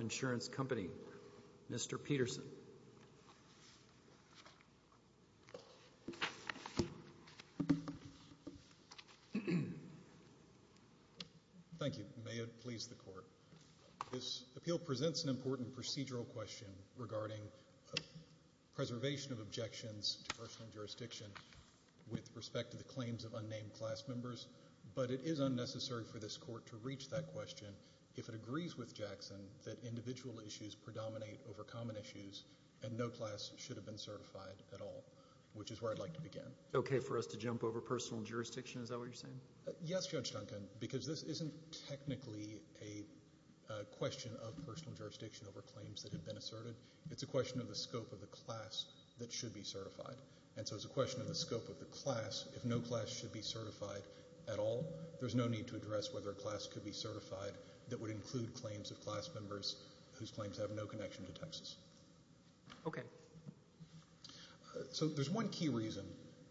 Insurance Company, Mr. Peterson. Thank you. May it please the Court. This appeal presents an important procedural question regarding preservation of objections to personal jurisdiction with respect to the claims of unnamed class members, but it is unnecessary for this Court to reach that question if it agrees with Jackson that individual issues predominate over common issues and no class should have been certified at all, which is where I'd like to begin. Okay for us to jump over personal jurisdiction, is that what you're saying? Yes, Judge Duncan, because this isn't technically a question of personal jurisdiction over claims that have been asserted. It's a question of the scope of the class that should be certified, and so it's a question of the scope of the class, if no class should be certified at all, there's no need to address whether a class could be certified that would include claims of class members whose claims have no connection to taxes. Okay. So there's one key reason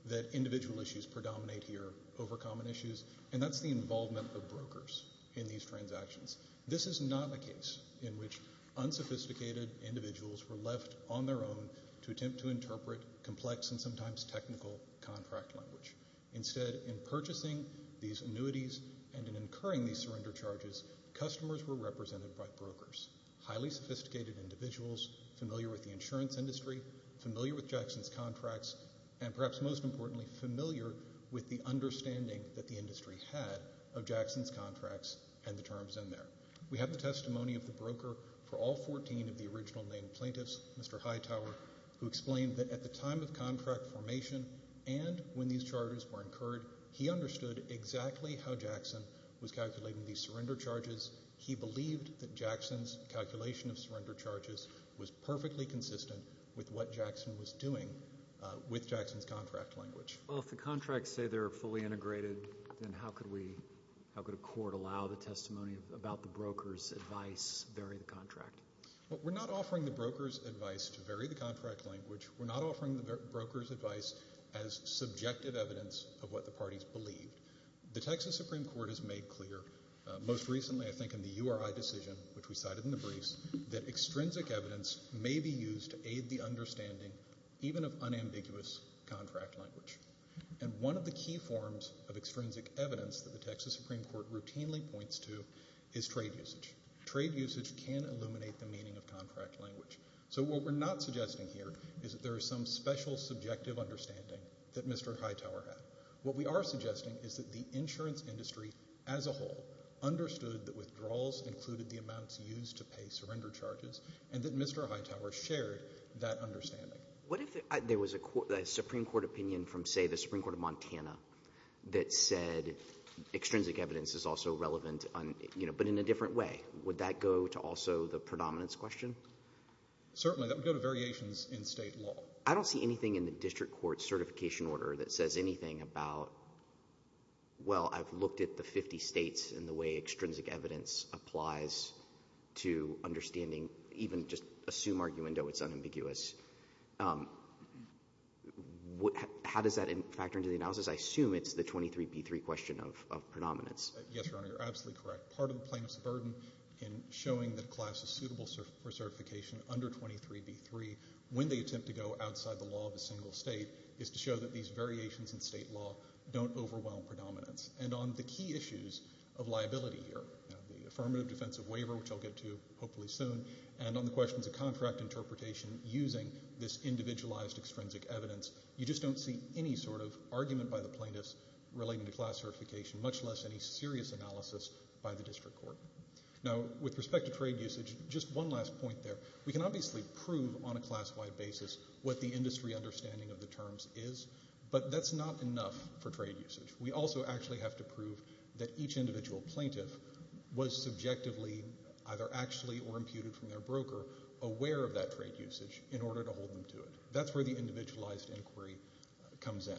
that individual issues predominate here over common issues, and that's the involvement of brokers in these transactions. This is not a case in which unsophisticated individuals were left on their own to attempt to interpret complex and sometimes technical contract language. Instead, in purchasing these annuities and in incurring these surrender charges, customers were represented by brokers, highly sophisticated individuals familiar with the insurance industry, familiar with Jackson's contracts, and perhaps most importantly, familiar with the understanding that the industry had of Jackson's contracts and the terms in there. We have the testimony of the broker for all 14 of the original named plaintiffs, Mr. Hightower, who explained that at the time of contract formation and when these charges were incurred, he understood exactly how Jackson was calculating these surrender charges. He believed that Jackson's calculation of surrender charges was perfectly consistent with what Jackson was doing with Jackson's contract language. Well, if the contracts say they're fully integrated, then how could we, how could a court allow the testimony about the broker's advice vary the contract? We're not offering the broker's advice to vary the contract language. We're not offering the broker's advice as subjective evidence of what the parties believed. The Texas Supreme Court has made clear, most recently I think in the URI decision, which we cited in the briefs, that extrinsic evidence may be used to aid the understanding even of unambiguous contract language. And one of the key forms of extrinsic evidence that the Texas Supreme Court routinely points to is trade usage. Trade usage can illuminate the meaning of contract language. So what we're not suggesting here is that there is some special subjective understanding that Mr. Hightower had. What we are suggesting is that the insurance industry as a whole understood that withdrawals included the amounts used to pay surrender charges and that Mr. Hightower shared that understanding. What if there was a Supreme Court opinion from, say, the Supreme Court of Montana that said extrinsic evidence is also relevant, you know, but in a different way? Would that go to also the predominance question? Certainly. That would go to variations in state law. I don't see anything in the district court certification order that says anything about, well, I've looked at the 50 states and the way extrinsic evidence applies to understanding, even just assume arguendo it's unambiguous. How does that factor into the analysis? I assume it's the 23B3 question of predominance. Yes, Your Honor, you're absolutely correct. Part of the plaintiff's burden in showing that a class is suitable for certification under 23B3 when they attempt to go outside the law of a single state is to show that these variations in state law don't overwhelm predominance. And on the key issues of liability here, the affirmative defensive waiver, which I'll get to hopefully soon, and on the questions of contract interpretation using this individualized extrinsic evidence, you just don't see any sort of argument by the plaintiffs relating to class certification, much less any serious analysis by the district court. Now with respect to trade usage, just one last point there. We can obviously prove on a class-wide basis what the industry understanding of the terms is, but that's not enough for trade usage. We also actually have to prove that each individual plaintiff was subjectively, either actually or imputed from their broker, aware of that trade usage in order to hold them to it. That's where the individualized inquiry comes in.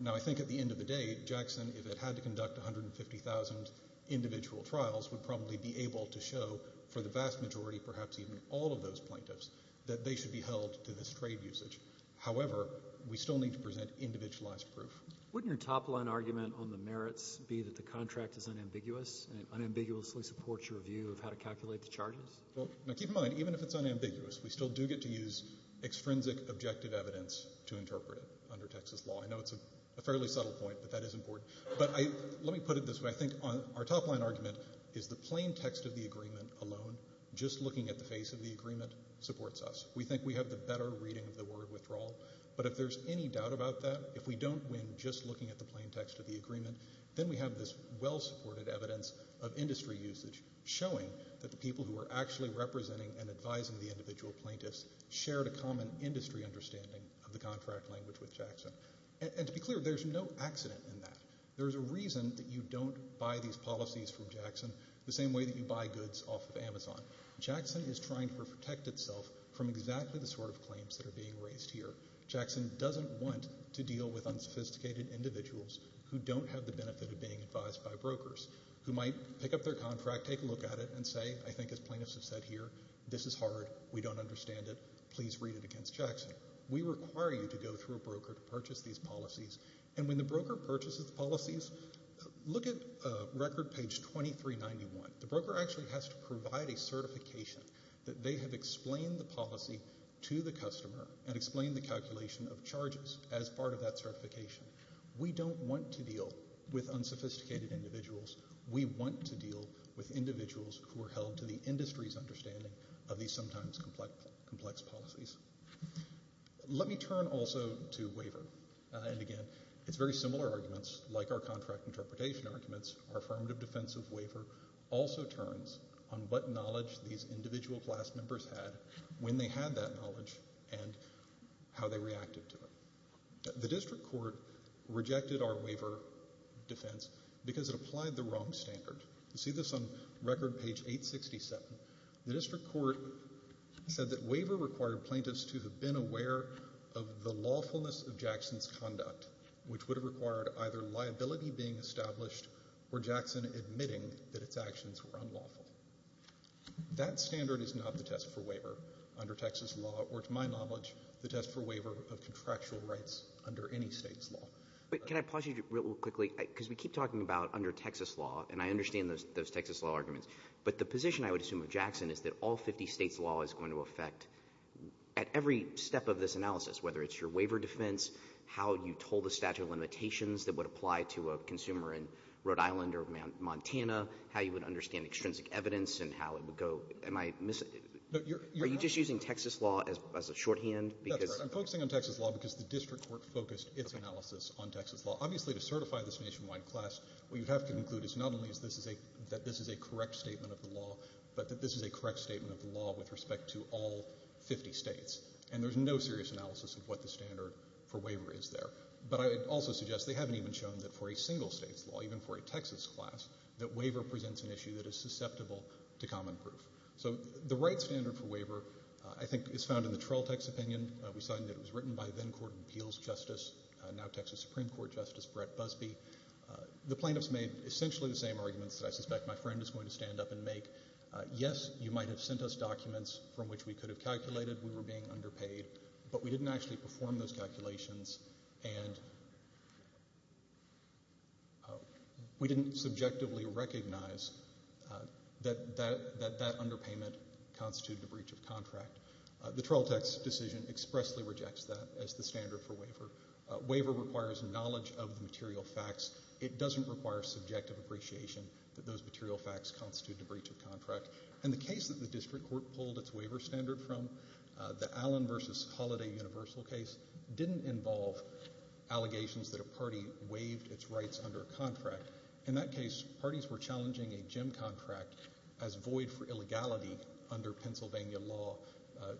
Now I think at the end of the day, Jackson, if it had to conduct 150,000 individual trials, would probably be able to show for the vast majority, perhaps even all of those plaintiffs, that they should be held to this trade usage. However, we still need to present individualized proof. Wouldn't your top-line argument on the merits be that the contract is unambiguous and unambiguously supports your view of how to calculate the charges? Well, now keep in mind, even if it's unambiguous, we still do get to use extrinsic objective evidence to interpret it under Texas law. I know it's a fairly subtle point, but that is important. But let me put it this way. I think our top-line argument is the plain text of the agreement alone, just looking at the face of the agreement, supports us. We think we have the better reading of the word withdrawal, but if there's any doubt about that, if we don't win just looking at the plain text of the agreement, then we have this well-supported evidence of industry usage showing that the people who are actually representing and advising the individual plaintiffs shared a common industry understanding of the contract language with Jackson. And to be clear, there's no accident in that. There's a reason that you don't buy these policies from Jackson the same way that you buy goods off of Amazon. Jackson is trying to protect itself from exactly the sort of claims that are being raised here. Jackson doesn't want to deal with unsophisticated individuals who don't have the benefit of being advised by brokers, who might pick up their contract, take a look at it, and say, I think as plaintiffs have said here, this is hard, we don't understand it, please read it against Jackson. We require you to go through a broker to purchase these policies. And when the broker purchases the policies, look at record page 2391. The broker actually has to provide a certification that they have explained the policy to the calculation of charges as part of that certification. We don't want to deal with unsophisticated individuals. We want to deal with individuals who are held to the industry's understanding of these sometimes complex policies. Let me turn also to waiver. And again, it's very similar arguments like our contract interpretation arguments. Our affirmative defensive waiver also turns on what knowledge these individual class members had when they had that knowledge and how they reacted to it. The district court rejected our waiver defense because it applied the wrong standard. You see this on record page 867. The district court said that waiver required plaintiffs to have been aware of the lawfulness of Jackson's conduct, which would have required either liability being established or Jackson admitting that its actions were unlawful. That standard is not the test for waiver under Texas law, or to my knowledge, the test for waiver of contractual rights under any state's law. But can I pause you real quickly? Because we keep talking about under Texas law, and I understand those Texas law arguments. But the position I would assume of Jackson is that all 50 states' law is going to affect at every step of this analysis, whether it's your waiver defense, how you told the statute of limitations that would apply to a consumer in Rhode Island or Montana, how you would understand extrinsic evidence and how it would go. Am I missing? Are you just using Texas law as a shorthand? That's right. I'm focusing on Texas law because the district court focused its analysis on Texas law. Obviously, to certify this nationwide class, what you have to conclude is not only that this is a correct statement of the law, but that this is a correct statement of the law with respect to all 50 states. And there's no serious analysis of what the standard for waiver is there. But I would also suggest they haven't even shown that for a single state's law, even for a Texas class, that waiver presents an issue that is susceptible to common proof. So the right standard for waiver, I think, is found in the Trolltex opinion. We saw that it was written by then-court appeals justice, now-Texas Supreme Court Justice Brett Busbee. The plaintiffs made essentially the same arguments that I suspect my friend is going to stand up and make. Yes, you might have sent us documents from which we could have calculated we were being underpaid, but we didn't actually perform those calculations. And we didn't subjectively recognize that that underpayment constituted a breach of contract. The Trolltex decision expressly rejects that as the standard for waiver. Waiver requires knowledge of the material facts. It doesn't require subjective appreciation that those material facts constitute a breach of contract. And the case that the district court pulled its waiver standard from, the Allen v. Holliday universal case, didn't involve allegations that a party waived its rights under a contract. In that case, parties were challenging a gym contract as void for illegality under Pennsylvania law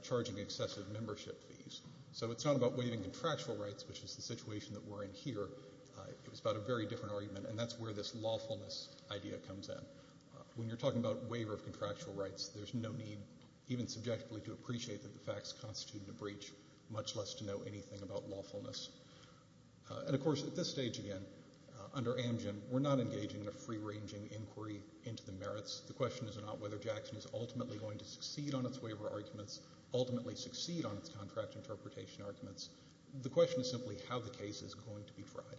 charging excessive membership fees. So it's not about waiving contractual rights, which is the situation that we're in here. It was about a very different argument, and that's where this lawfulness idea comes in. When you're talking about waiver of contractual rights, there's no need even subjectively to appreciate that the facts constitute a breach, much less to know anything about lawfulness. And of course, at this stage, again, under Amgen, we're not engaging in a free-ranging inquiry into the merits. The question is not whether Jackson is ultimately going to succeed on its waiver arguments, ultimately succeed on its contract interpretation arguments. The question is simply how the case is going to be tried.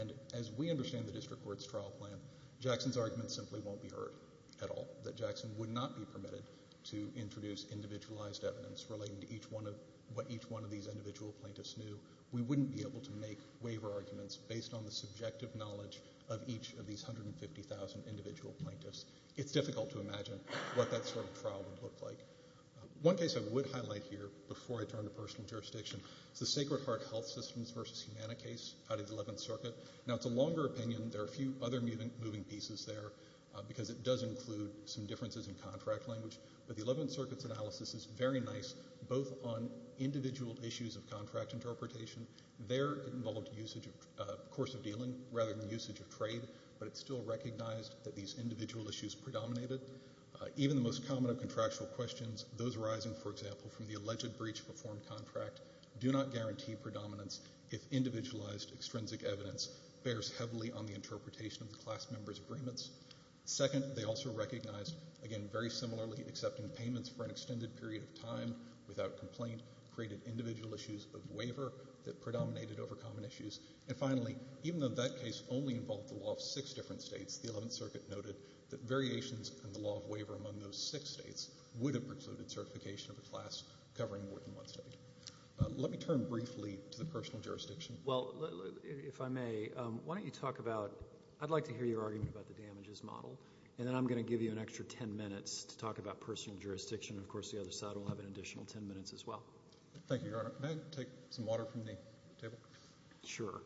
And as we understand the district court's trial plan, Jackson's argument simply won't be heard at all, that Jackson would not be permitted to introduce individualized evidence relating to what each one of these individual plaintiffs knew. We wouldn't be able to make waiver arguments based on the subjective knowledge of each of these 150,000 individual plaintiffs. It's difficult to imagine what that sort of trial would look like. One case I would highlight here before I turn to personal jurisdiction is the Sacred Heart Health Systems v. Humana case out of the Eleventh Circuit. Now, it's a longer opinion. There are a few other moving pieces there, because it does include some differences in contract language. But the Eleventh Circuit's analysis is very nice, both on individual issues of contract interpretation. There, it involved usage of course of dealing rather than usage of trade, but it still recognized that these individual issues predominated. Even the most common of contractual questions, those arising, for example, from the alleged breach of a form contract, do not guarantee predominance if individualized extrinsic evidence bears heavily on the interpretation of the class member's agreements. Second, they also recognized, again, very similarly, accepting payments for an extended period of time without complaint created individual issues of waiver that predominated over common issues. And finally, even though that case only involved the law of six different states, the Eleventh Circuit noted that variations in the law of waiver among those six states would have precluded certification of a class covering more than one state. Let me turn briefly to the personal jurisdiction. Well, if I may, why don't you talk about, I'd like to hear your argument about the damages model, and then I'm going to give you an extra ten minutes to talk about personal jurisdiction. Of course, the other side will have an additional ten minutes as well. Thank you, Your Honor. May I take some water from the table? Sure.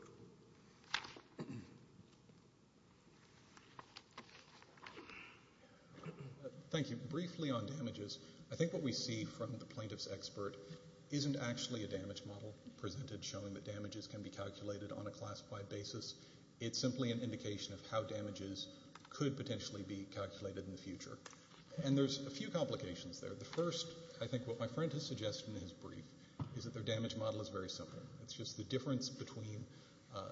Thank you. Briefly on damages, I think what we see from the plaintiff's expert isn't actually a damage model presented showing that damages can be calculated on a classified basis. It's simply an indication of how damages could potentially be calculated in the future. And there's a few complications there. The first, I think what my friend has suggested in his brief, is that their damage model is very simple. It's just the difference between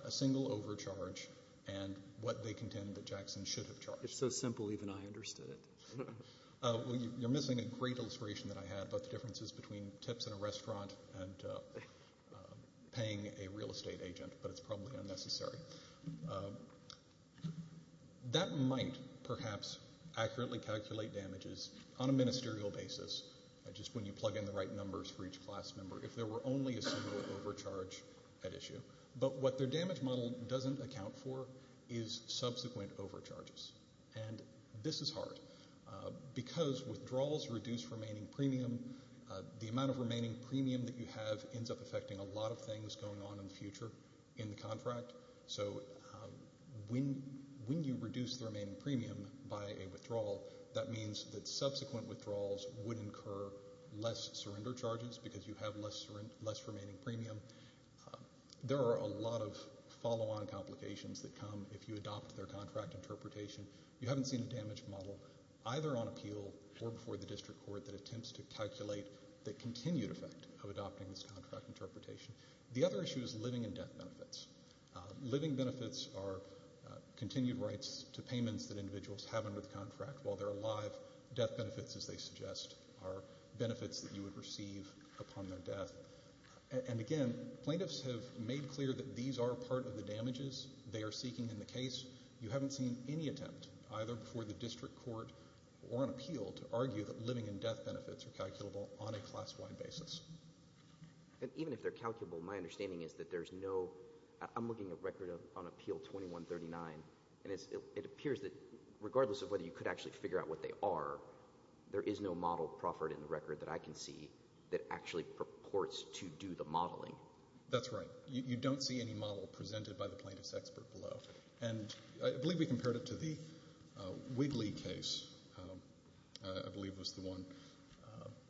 a single overcharge and what they contend that Jackson should have charged. It's so simple, even I understood it. Well, you're missing a great illustration that I had about the differences between tips in a restaurant and paying a real estate agent, but it's probably unnecessary. That might perhaps accurately calculate damages on a ministerial basis, just when you plug in the right numbers for each class member, if there were only a single overcharge at issue. But what their damage model doesn't account for is subsequent overcharges. And this is hard. Because withdrawals reduce remaining premium, the amount of remaining premium that you have ends up affecting a lot of things going on in the future in the contract. So when you reduce the remaining premium by a withdrawal, that means that subsequent withdrawals would incur less surrender charges because you have less remaining premium. There are a lot of follow-on complications that come if you adopt their contract interpretation. You haven't seen a damage model either on appeal or before the district court that attempts to calculate the continued effect of adopting this contract interpretation. The other issue is living and death benefits. Living benefits are continued rights to payments that individuals have under the contract while they're alive. Death benefits, as they suggest, are benefits that you would receive upon their death. And again, plaintiffs have made clear that these are part of the damages they are seeking in the case. You haven't seen any attempt either before the district court or on appeal to argue that living and death benefits are calculable on a class-wide basis. And even if they're calculable, my understanding is that there's no... I'm looking at record on appeal 2139, and it appears that regardless of whether you could actually figure out what they are, there is no model proffered in the record that I can see that actually purports to do the modeling. That's right. You don't see any model presented by the plaintiff's expert below. And I believe we compared it to the Wigley case, I believe was the one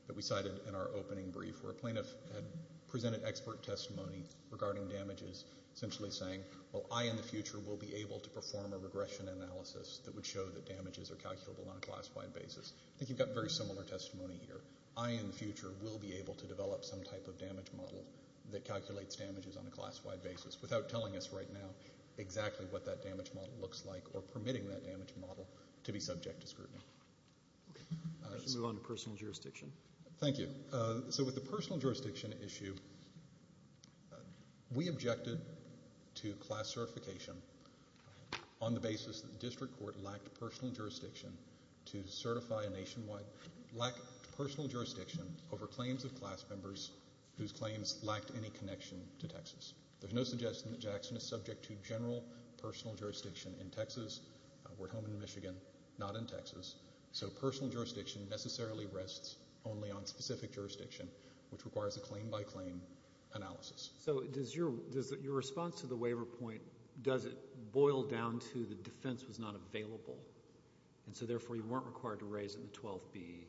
that we cited in our opening brief, where a plaintiff had presented expert testimony regarding damages, essentially saying, well, I in the future will be able to perform a regression analysis that would show that damages are calculable on a class-wide basis. I think you've got very similar testimony here. I in the future will be able to develop some type of damage model that calculates what that damage model looks like or permitting that damage model to be subject to scrutiny. Okay. Let's move on to personal jurisdiction. Thank you. So with the personal jurisdiction issue, we objected to class certification on the basis that the district court lacked personal jurisdiction to certify a nationwide... lacked personal jurisdiction over claims of class members whose claims lacked any connection to Texas. There's no suggestion that Jackson is subject to general personal jurisdiction in Texas. We're home in Michigan, not in Texas. So personal jurisdiction necessarily rests only on specific jurisdiction, which requires a claim-by-claim analysis. So does your response to the waiver point, does it boil down to the defense was not available and so therefore you weren't required to raise it in the 12th B?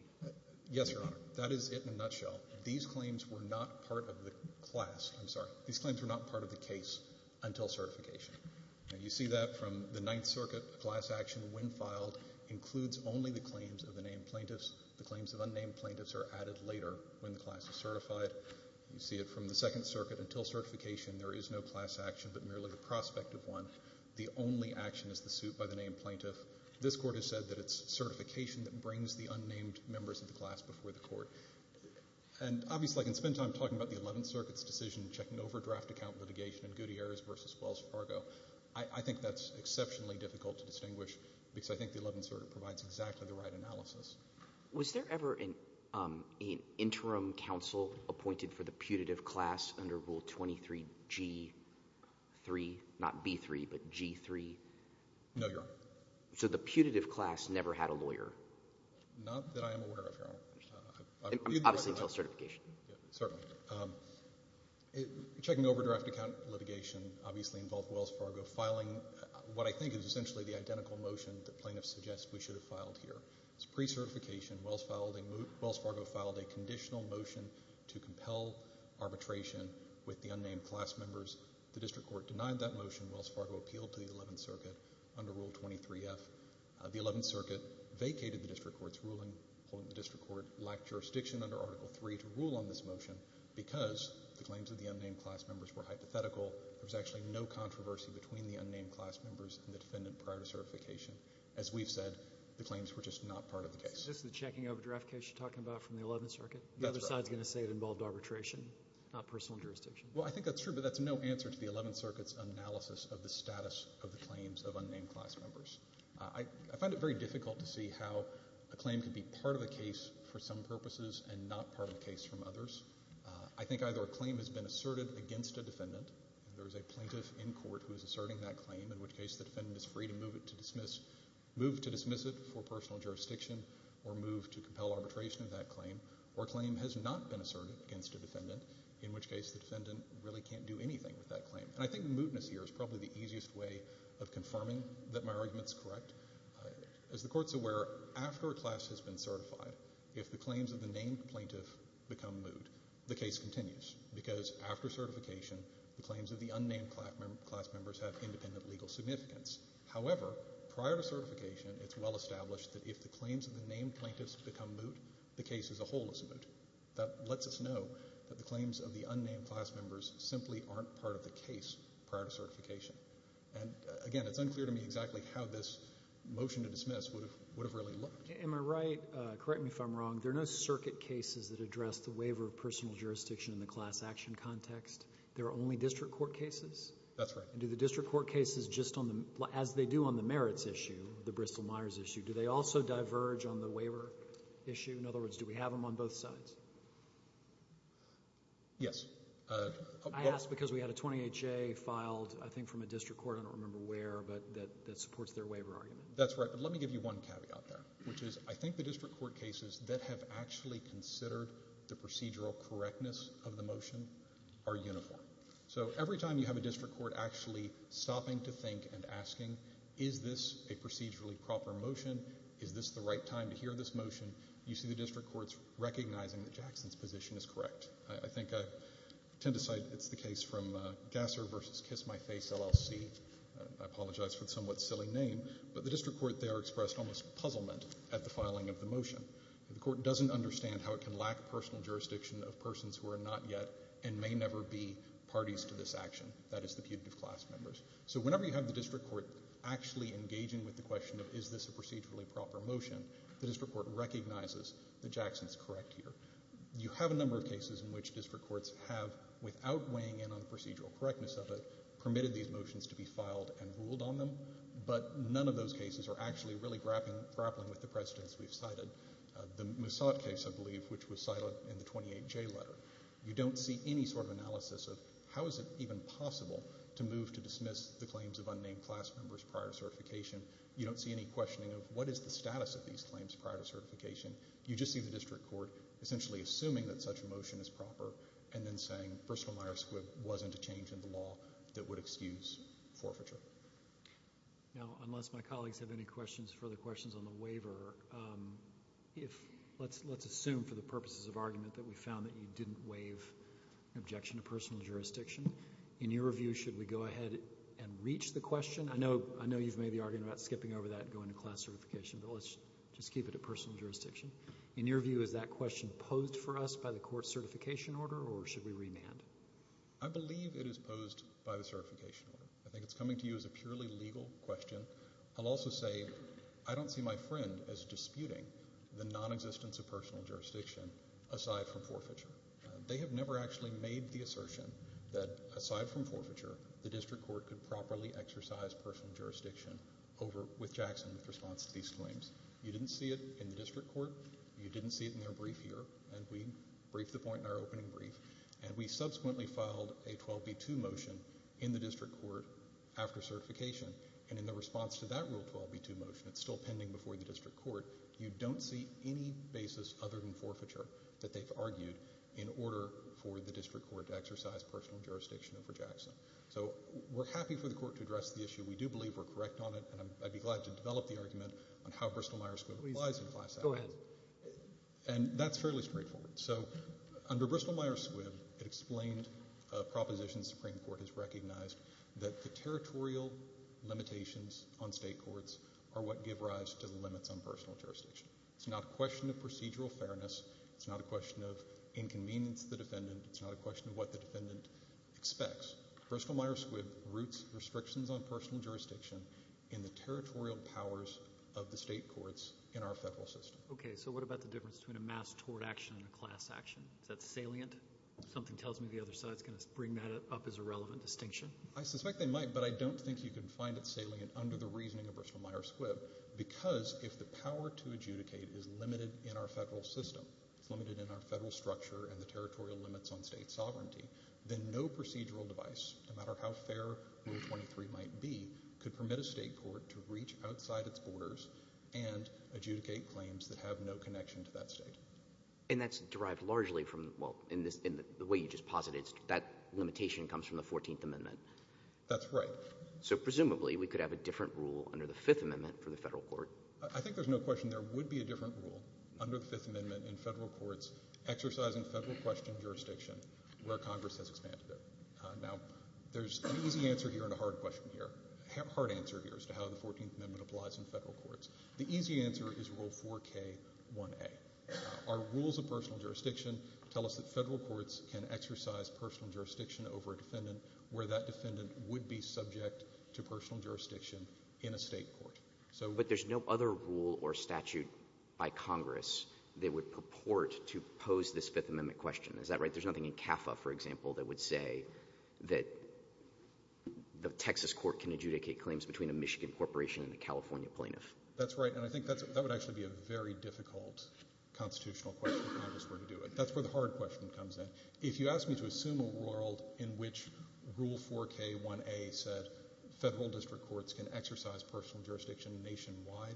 Yes, Your Honor. That is it in a nutshell. These claims were not part of the class. I'm sorry. These claims were not part of the case until certification. You see that from the Ninth Circuit class action when filed includes only the claims of the named plaintiffs. The claims of unnamed plaintiffs are added later when the class is certified. You see it from the Second Circuit until certification. There is no class action but merely the prospect of one. The only action is the suit by the named plaintiff. This court has said that it's certification that brings the unnamed members of the class before the court. And obviously I can spend time talking about the Eleventh Circuit's decision checking overdraft account litigation in Gutierrez versus Wells Fargo. I think that's exceptionally difficult to distinguish because I think the Eleventh Circuit provides exactly the right analysis. Was there ever an interim counsel appointed for the putative class under Rule 23G3, not B3, but G3? No, Your Honor. So the putative class never had a lawyer? Not that I am aware of, Your Honor. Obviously until certification. Certainly. Checking overdraft account litigation obviously involved Wells Fargo filing what I think is essentially the identical motion that plaintiffs suggest we should have filed here. It's pre-certification. Wells Fargo filed a conditional motion to compel arbitration with the unnamed class members. The district court denied that motion. Wells Fargo appealed to the Eleventh Circuit under Rule 23F. The Eleventh Circuit vacated the district court's ruling. The district court lacked jurisdiction under Article 3 to rule on this motion because the claims of the unnamed class members were hypothetical. There was actually no controversy between the unnamed class members and the defendant prior to certification. As we've said, the claims were just not part of the case. Is this the checking overdraft case you're talking about from the Eleventh Circuit? That's right. The other side is going to say it involved arbitration, not personal jurisdiction. Well, I think that's true, but that's no answer to the Eleventh Circuit's analysis of the status of the claims of unnamed class members. I find it very difficult to see how a claim could be part of a case for some purposes and not part of a case from others. I think either a claim has been asserted against a defendant, there's a plaintiff in court who is asserting that claim, in which case the defendant is free to move to dismiss it for personal jurisdiction or move to compel arbitration of that claim, or a claim has not been asserted against a claim. And I think the mootness here is probably the easiest way of confirming that my argument's correct. As the Court's aware, after a class has been certified, if the claims of the named plaintiff become moot, the case continues, because after certification, the claims of the unnamed class members have independent legal significance. However, prior to certification, it's well established that if the claims of the named plaintiffs become moot, the case as a whole is moot. That lets us know that the claims of the unnamed class members simply aren't part of the case prior to certification. And again, it's unclear to me exactly how this motion to dismiss would have really looked. Am I right? Correct me if I'm wrong. There are no circuit cases that address the waiver of personal jurisdiction in the class action context. There are only district court cases? That's right. And do the district court cases, as they do on the merits issue, the Bristol-Myers issue, do they also diverge on the waiver issue? In other words, do we have them on both sides? Yes. I asked because we had a 28-J filed, I think, from a district court. I don't remember where, but that supports their waiver argument. That's right. But let me give you one caveat there, which is I think the district court cases that have actually considered the procedural correctness of the motion are uniform. So every time you have a district court actually stopping to think and asking, is this a procedurally proper motion? Is this the right time to hear this motion? You see the district courts recognizing that Jackson's position is correct. I think I tend to cite, it's the case from Gasser versus Kiss My Face LLC. I apologize for the somewhat silly name. But the district court there expressed almost puzzlement at the filing of the motion. The court doesn't understand how it can lack personal jurisdiction of persons who are not yet and may never be parties to this action. That is the putative class members. So whenever you have the district court actually engaging with the question of is this a procedurally proper motion, the district court recognizes that Jackson's correct here. You have a number of cases in which district courts have, without weighing in on the procedural correctness of it, permitted these motions to be filed and ruled on them. But none of those cases are actually really grappling with the precedents we've cited. The Moussad case, I believe, which was cited in the 28J letter. You don't see any sort of analysis of how is it even possible to move to dismiss the claims of unnamed class members prior to certification. prior to certification. You just see the district court essentially assuming that such a motion is proper and then saying, first of all, Myers Squibb wasn't a change in the law that would excuse forfeiture. Now, unless my colleagues have any questions, further questions on the waiver, let's assume for the purposes of argument that we found that you didn't waive an objection to personal jurisdiction. In your review, should we go ahead and reach the question? I know you've made the argument about skipping over that and going to personal jurisdiction. In your view, is that question posed for us by the court's certification order or should we remand? I believe it is posed by the certification order. I think it's coming to you as a purely legal question. I'll also say I don't see my friend as disputing the nonexistence of personal jurisdiction aside from forfeiture. They have never actually made the assertion that aside from forfeiture, the district court could properly exercise personal jurisdiction over with Jackson with response to these claims. You didn't see it in the district court. You didn't see it in their brief here and we briefed the point in our opening brief and we subsequently filed a 12B2 motion in the district court after certification and in the response to that rule 12B2 motion, it's still pending before the district court, you don't see any basis other than forfeiture that they've argued in order for the district court to exercise personal jurisdiction over Jackson. So we're happy for the court to address the issue. Go ahead. And that's fairly straightforward. So under Bristol-Myers Squibb, it explained a proposition the Supreme Court has recognized that the territorial limitations on state courts are what give rise to the limits on personal jurisdiction. It's not a question of procedural fairness. It's not a question of inconvenience to the defendant. It's not a question of what the defendant expects. Bristol-Myers Squibb roots restrictions on personal jurisdiction in the state courts in our federal system. Okay. So what about the difference between a mass tort action and a class action? Is that salient? Something tells me the other side is going to bring that up as a relevant distinction. I suspect they might, but I don't think you can find it salient under the reasoning of Bristol-Myers Squibb because if the power to adjudicate is limited in our federal system, it's limited in our federal structure and the territorial limits on state sovereignty, then no procedural device, no matter how fair Rule 23 might be, could permit a state court to reach outside its borders and adjudicate claims that have no connection to that state. And that's derived largely from, well, in the way you just posited, that limitation comes from the 14th Amendment. That's right. So presumably we could have a different rule under the 5th Amendment for the federal court. I think there's no question there would be a different rule under the 5th Amendment in federal courts exercising federal question jurisdiction where Congress has expanded it. Now, there's an easy answer here and a hard question here. Hard answer here as to how the 14th Amendment applies in federal courts. The easy answer is Rule 4K1A. Our rules of personal jurisdiction tell us that federal courts can exercise personal jurisdiction over a defendant where that defendant would be subject to personal jurisdiction in a state court. But there's no other rule or statute by Congress that would purport to pose this 5th Amendment question. Is that right? There's nothing in CAFA, for example, that would say that the Texas Court can adjudicate claims between a Michigan corporation and a California plaintiff. That's right, and I think that would actually be a very difficult constitutional question if Congress were to do it. That's where the hard question comes in. If you ask me to assume a world in which Rule 4K1A said federal district courts can exercise personal jurisdiction nationwide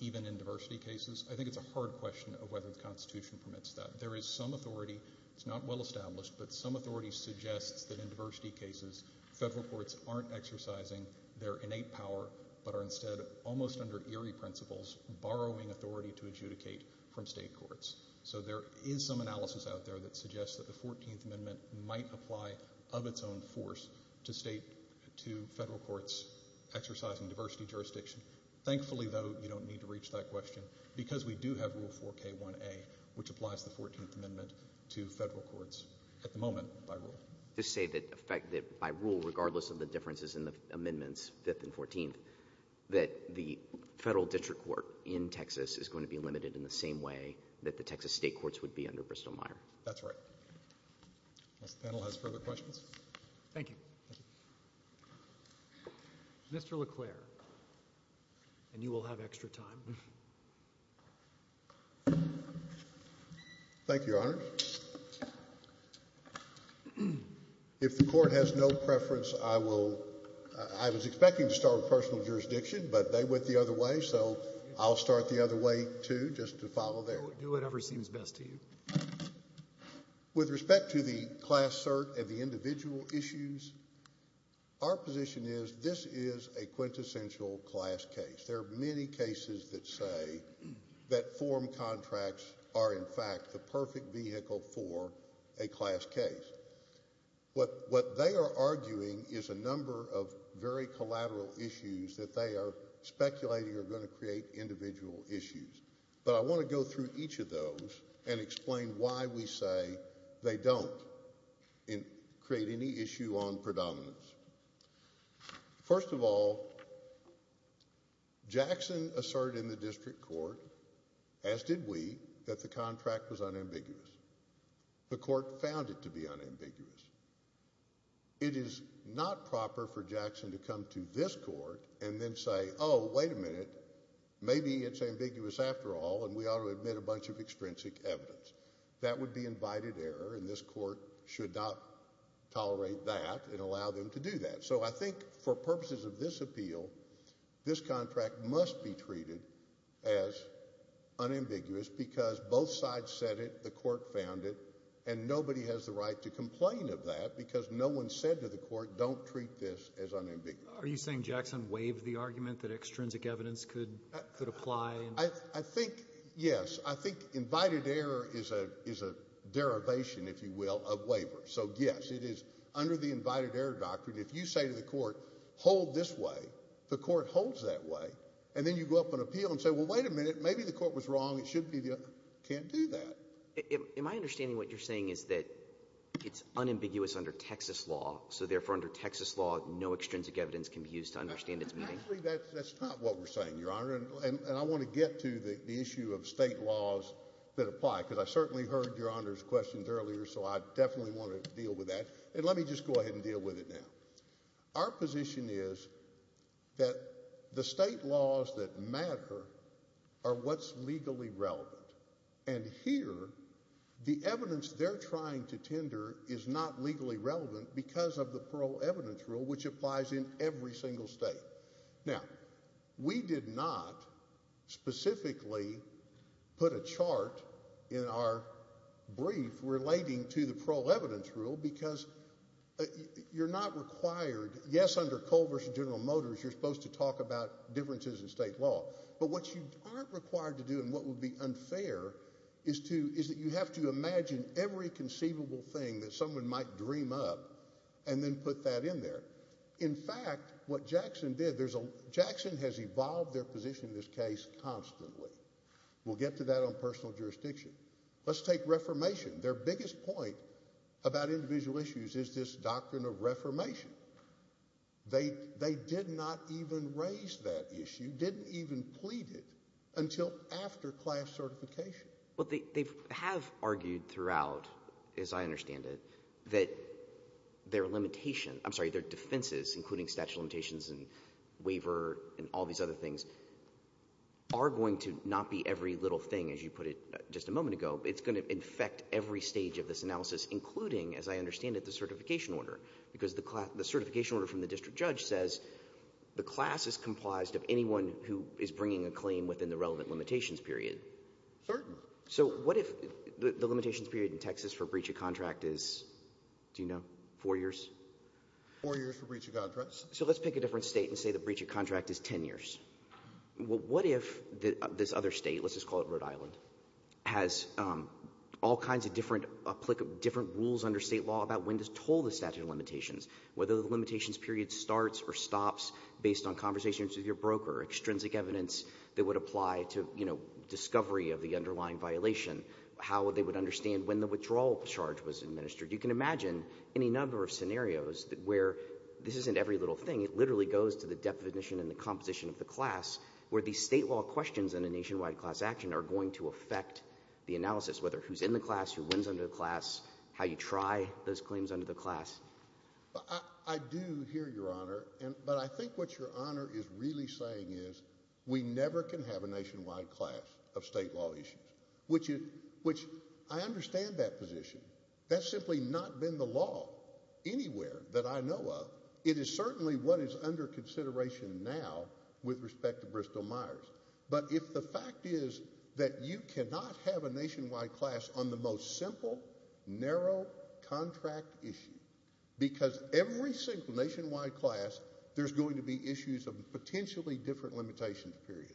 even in diversity cases, I think it's a hard question of whether the Constitution permits that. There is some authority. It's not well established, but some authority suggests that in diversity cases, federal courts aren't exercising their innate power but are instead, almost under eerie principles, borrowing authority to adjudicate from state courts. So there is some analysis out there that suggests that the 14th Amendment might apply of its own force to state, to federal courts exercising diversity jurisdiction. Thankfully, though, you don't need to reach that question because we do have Rule 4K1A, which applies the 14th Amendment to federal courts at the moment by rule. Just say that by rule, regardless of the differences in the amendments 5th and 14th, that the federal district court in Texas is going to be limited in the same way that the Texas state courts would be under Bristol-Myers. That's right. This panel has further questions. Thank you. Mr. LeClaire, and you will have extra time. Thank you, Your Honor. If the court has no preference, I will I was expecting to start with personal jurisdiction but they went the other way, so I'll start the other way, too, just to follow there. Do whatever seems best to you. With respect to the class cert and the individual issues our position is, this is a quintessential class case. There are many cases that say that form contracts are, in fact, the perfect vehicle for a class case. What they are arguing is a number of very collateral issues that they are speculating are going to create individual issues. But I want to go through each of those and explain why we say they don't create any issue on predominance. First of all, Jackson asserted in the district court as did we, that the contract was unambiguous. The court found it to be unambiguous. It is not proper for Jackson to come to this court and then say, oh, wait a minute maybe it's ambiguous after all and we ought to admit a bunch of extrinsic evidence. That would be invited error and this court should not tolerate that and allow them to do that. So I think for purposes of this appeal this contract must be treated as unambiguous because both sides said it the court found it and nobody has the right to complain of that because no one said to the court don't treat this as unambiguous. Are you saying Jackson waived the argument that extrinsic evidence could apply? I think yes. I think invited error is a derivation, if you will, of waiver. So yes, it is under the invited error doctrine if you say to the court hold this way the court holds that way and then you go up on appeal and say wait a minute, maybe the court was wrong it can't do that. Am I understanding what you're saying is that it's unambiguous under Texas law so therefore under Texas law no extrinsic evidence can be used to understand its meaning? Actually, that's not what we're saying, Your Honor and I want to get to the issue of state laws that apply because I certainly heard Your Honor's questions earlier so I definitely want to deal with that and let me just go ahead and deal with it now. Our position is that the state laws that matter are what's legally relevant and here the evidence they're trying to tender is not legally relevant because of the parole evidence rule which applies in every single state. Now, we did not specifically put a chart in our brief relating to the parole evidence rule because you're not required yes, under Cole v. General Motors you're supposed to talk about differences in state law but what you aren't required to do and what would be unfair is that you have to imagine every conceivable thing that someone might dream up and then put that in there. In fact, what Jackson did Jackson has evolved their position in this case constantly we'll get to that on personal jurisdiction let's take reformation their biggest point about individual issues is this doctrine of reformation they did not even raise that issue didn't even plead it until after class certification they have argued throughout as I understand it that their limitations I'm sorry, their defenses including statute of limitations and waiver and all these other things are going to not be every little thing as you put it just a moment ago it's going to infect every stage of this analysis including, as I understand it, the certification order because the certification order from the district judge says the class is comprised of anyone who is bringing a claim within the relevant limitations period certainly so what if the limitations period in Texas for breach of contract is 4 years 4 years for breach of contract so let's pick a different state and say the breach of contract is 10 years what if this other state, let's just call it Rhode Island has all kinds of different rules under state law about when to toll the statute of limitations whether the limitations period starts or stops based on conversations with your broker, extrinsic evidence that would apply to discovery of the underlying violation how they would understand when the withdrawal charge was administered you can imagine any number of scenarios where this isn't every little thing it literally goes to the definition and the composition of the class in a nationwide class action are going to affect the analysis, whether who's in the class who wins under the class how you try those claims under the class I do hear your honor but I think what your honor is really saying is we never can have a nationwide class of state law issues which I understand that position that's simply not been the law anywhere that I know of it is certainly what is under consideration now with respect to Bristol-Myers but if the fact is that you cannot have a nationwide class on the most simple narrow contract issue because every single nationwide class there's going to be issues of potentially different limitations period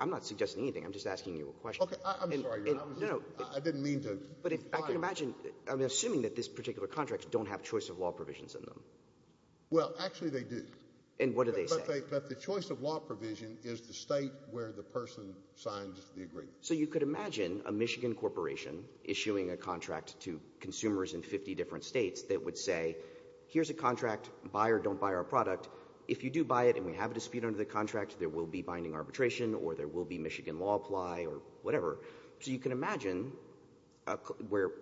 I'm not suggesting anything I'm just asking you a question I'm sorry your honor I didn't mean to I'm assuming that this particular contract don't have choice of law provisions in them well actually they do but the choice of law provision is the state where the person signs the agreement so you could imagine a Michigan corporation issuing a contract to consumers in 50 different states that would say here's a contract, buy or don't buy our product if you do buy it and we have a dispute under the contract there will be binding arbitration or there will be Michigan law apply or whatever so you can imagine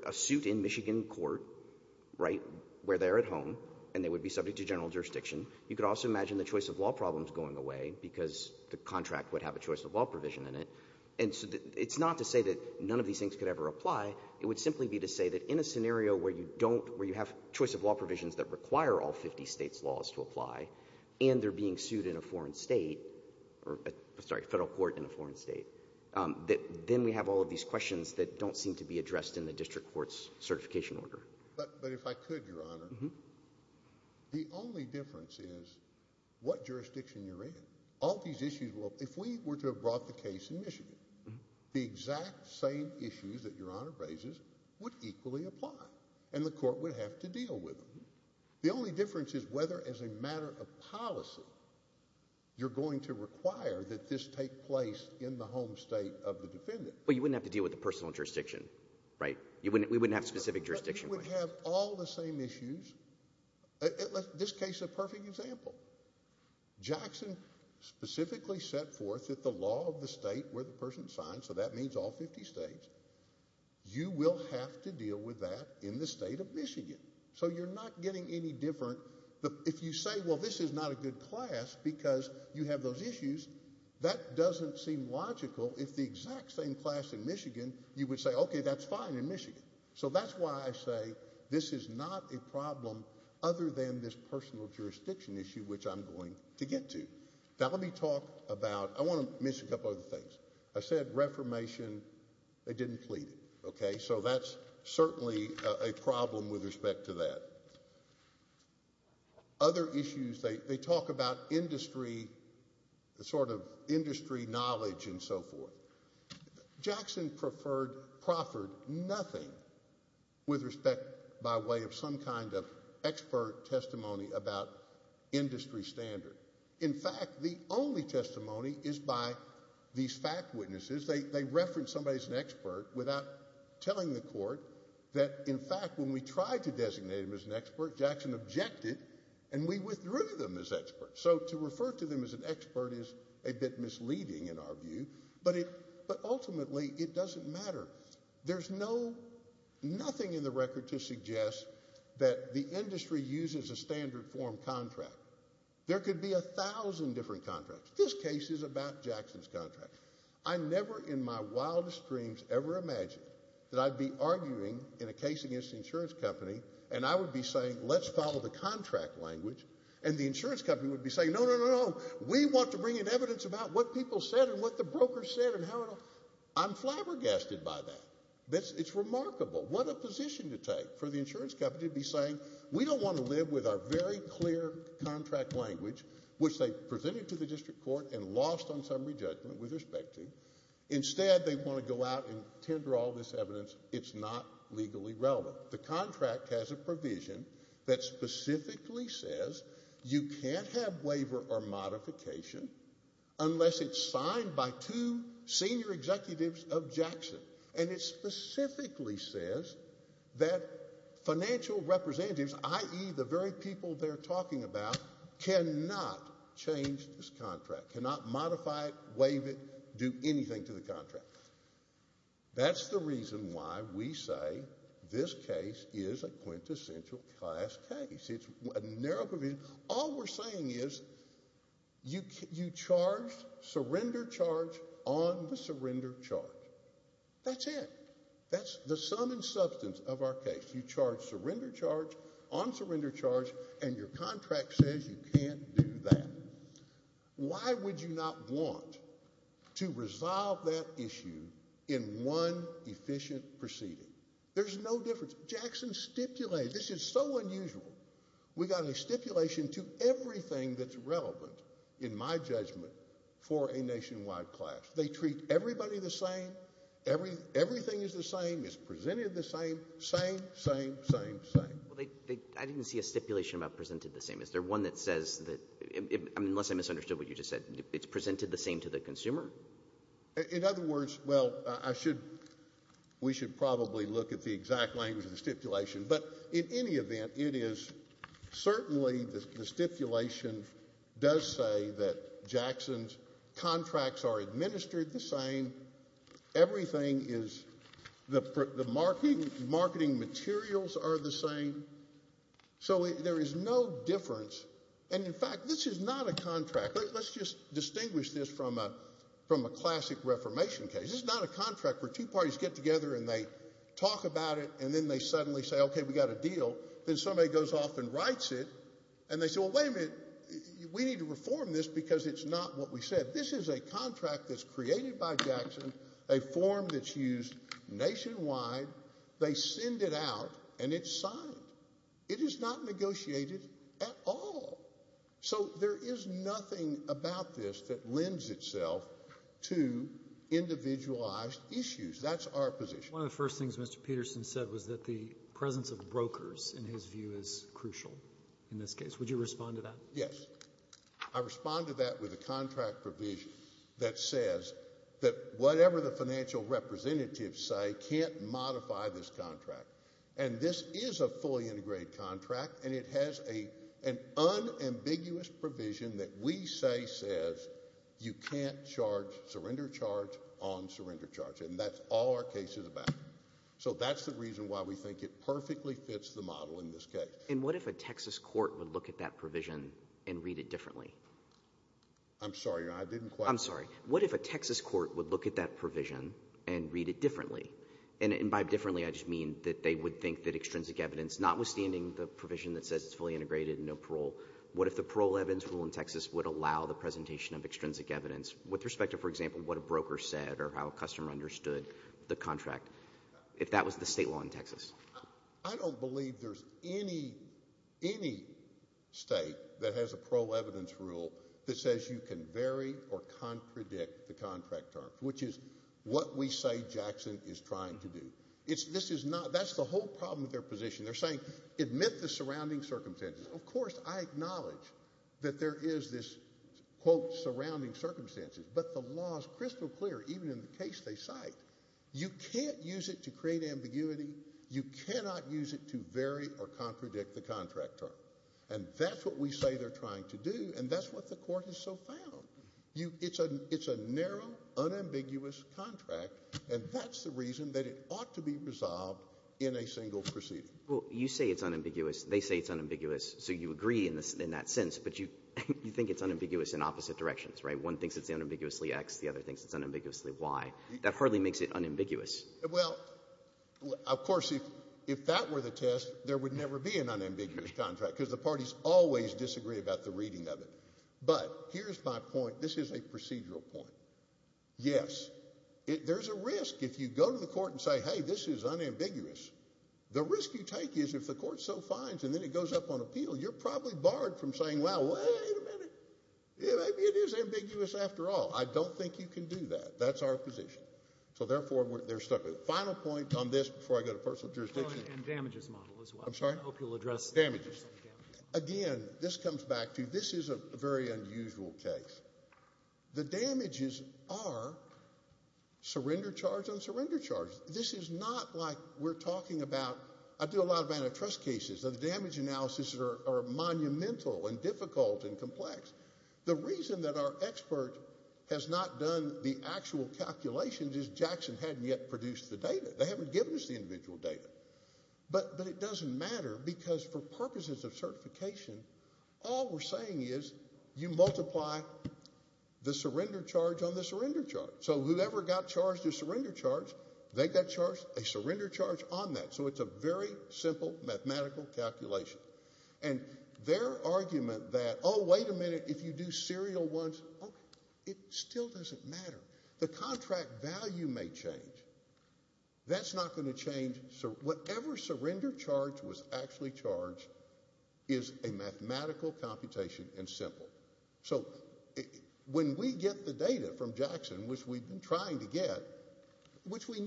a suit in Michigan court where they're at home and they would be subject to general jurisdiction you could also imagine the choice of law problems going away because the contract would have a choice of law provision in it it's not to say that none of these things could ever apply it would simply be to say that in a scenario where you don't where you have choice of law provisions that require all 50 states laws to apply and they're being sued in a foreign state sorry federal court in a foreign state then we have in the district courts certification order but if I could your honor the only difference is what jurisdiction you're in all these issues if we were to have brought the case in Michigan the exact same issues that your honor raises would equally apply and the court would have to deal with them the only difference is whether as a matter of policy you're going to require that this take place in the home state of the defendant but you wouldn't have to deal with the personal jurisdiction right we wouldn't have specific jurisdiction it would have all the same issues this case is a perfect example Jackson specifically set forth that the law of the state where the person signed so that means all 50 states you will have to deal with that in the state of Michigan so you're not getting any different if you say well this is not a good class because you have those issues that doesn't seem logical if the exact same class in Michigan you would say okay that's fine in Michigan so that's why I say this is not a problem other than this personal jurisdiction issue which I'm going to get to now let me talk about I want to mention a couple other things I said reformation they didn't plead it okay so that's certainly a problem with respect to that other issues they talk about industry sort of industry knowledge and so forth Jackson preferred nothing with respect by way of some kind of expert testimony about industry standard in fact the only testimony is by these fact witnesses they reference somebody as an expert without telling the court that in fact when we tried to designate him as an expert Jackson objected and we withdrew them as experts so to refer to them as an expert is a bit misleading in our view but ultimately it doesn't matter there's no nothing in the record to suggest that the industry uses a standard form contract there could be a thousand different contracts this case is about Jackson's contract I never in my wildest dreams ever imagined that I'd be arguing in a case against the insurance company and I would be saying let's follow the contract language and the insurance company would be saying no no no we want to bring in evidence about what people said and what the broker said and how it all I'm flabbergasted by that it's remarkable what a position to take for the insurance company to be saying we don't want to live with our very clear contract language which they presented to the district court and lost on summary judgment with respect to instead they want to go out and tender all this evidence it's not legally relevant the contract has a provision that specifically says you can't have waiver or modification unless it's signed by two senior executives of Jackson and it's specifically says that financial representatives i.e. the very people they're talking about cannot change this contract cannot modify it, waive it, do anything to the contract that's the reason why we say this case is a quintessential class case it's a narrow provision all we're saying is you charge surrender charge on the surrender charge that's it that's the sum and substance of our case you charge surrender charge on surrender charge and your contract says you can't do that why would you not want to resolve that issue in one efficient proceeding there's no difference Jackson stipulated this is so unusual we got a stipulation to everything that's relevant in my judgment for a nationwide class they treat everybody the same everything is the same it's presented the same same same same same I didn't see a stipulation about presented the same is there one that says that unless I misunderstood what you just said it's presented the same to the consumer in other words well I should we should probably look at the exact language of the stipulation but in any event it is certainly the stipulation does say that Jackson's contracts are administered the same everything is the marketing materials are the same so there is no difference and in fact this is not a contract let's just distinguish this from a classic reformation case this is not a contract where two parties get together and they talk about it and then they suddenly say okay we got a deal then somebody goes off and writes it and they say well wait a minute we need to reform this because it's not what we said this is a contract that's created by Jackson a form that's used nationwide they send it out and it's signed it is not negotiated at all so there is nothing about this that lends itself to individualized issues that's our position. One of the first things Mr. Peterson said was that the presence of brokers in his view is crucial in this case would you respond to that? Yes I respond to that with a contract provision that says that whatever the financial representatives say can't modify this contract and this is a fully integrated contract and it has an unambiguous provision that we say says you can't charge surrender charge on surrender charge and that's all our case is about so that's the reason why we think it perfectly fits the model in this case. And what if a Texas court would look at that provision and read it differently? I'm sorry I didn't quite. I'm sorry what if a Texas court would look at that provision and read it differently and by differently I just mean that they would think that extrinsic evidence notwithstanding the provision that says it's fully integrated and no parole what if the parole evidence rule in Texas would allow the presentation of extrinsic evidence with respect to for example what a broker said or how a customer understood the contract if that was the state law in Texas? I don't believe there's any state that has a parole evidence rule that says you can vary or contradict the contract terms which is what we say Jackson is trying to do it's this is not that's the whole problem with their position they're saying admit the surrounding circumstances of course I know there is this quote surrounding circumstances but the law is crystal clear even in the case they cite you can't use it to create ambiguity you cannot use it to vary or contradict the contract term and that's what we say they're trying to do and that's what the court has so found. It's a narrow unambiguous contract and that's the reason that it ought to be resolved in a single proceeding. Well you say it's unambiguous they say it's unambiguous so you agree in that sense but you think it's unambiguous in opposite directions right one thinks it's unambiguously X the other thinks it's unambiguously Y that hardly makes it unambiguous. Well of course if that were the test there would never be an unambiguous contract because the parties always disagree about the reading of it but here's my point this is a procedural point. Yes there's a risk if you go to the court and say hey this is unambiguous the risk you take is if the court so finds and then it goes up on appeal you're probably barred from saying well wait a minute maybe it is ambiguous after all I don't think you can do that that's our position so therefore they're stuck. Final point on this before I go to personal jurisdiction and damages model as well. I'm sorry. I hope you'll address damages. Again this comes back to this is a very unusual case. The damages are surrender charge and surrender charge. This is not like we're talking about trust cases. The damage analysis are monumental and difficult and complex. The reason that our expert has not done the actual calculations is Jackson hadn't yet produced the data. They haven't given us the individual data but it doesn't matter because for purposes of certification all we're saying is you multiply the surrender charge on the surrender charge so whoever got charged a surrender charge they got charged a surrender charge on that so it's a very simple mathematical calculation and their argument that oh wait a minute if you do serial ones it still doesn't matter. The contract value may change. That's not going to change so whatever surrender charge was actually charged is a mathematical computation and simple. So when we get the data from Jackson which we've been trying to get which we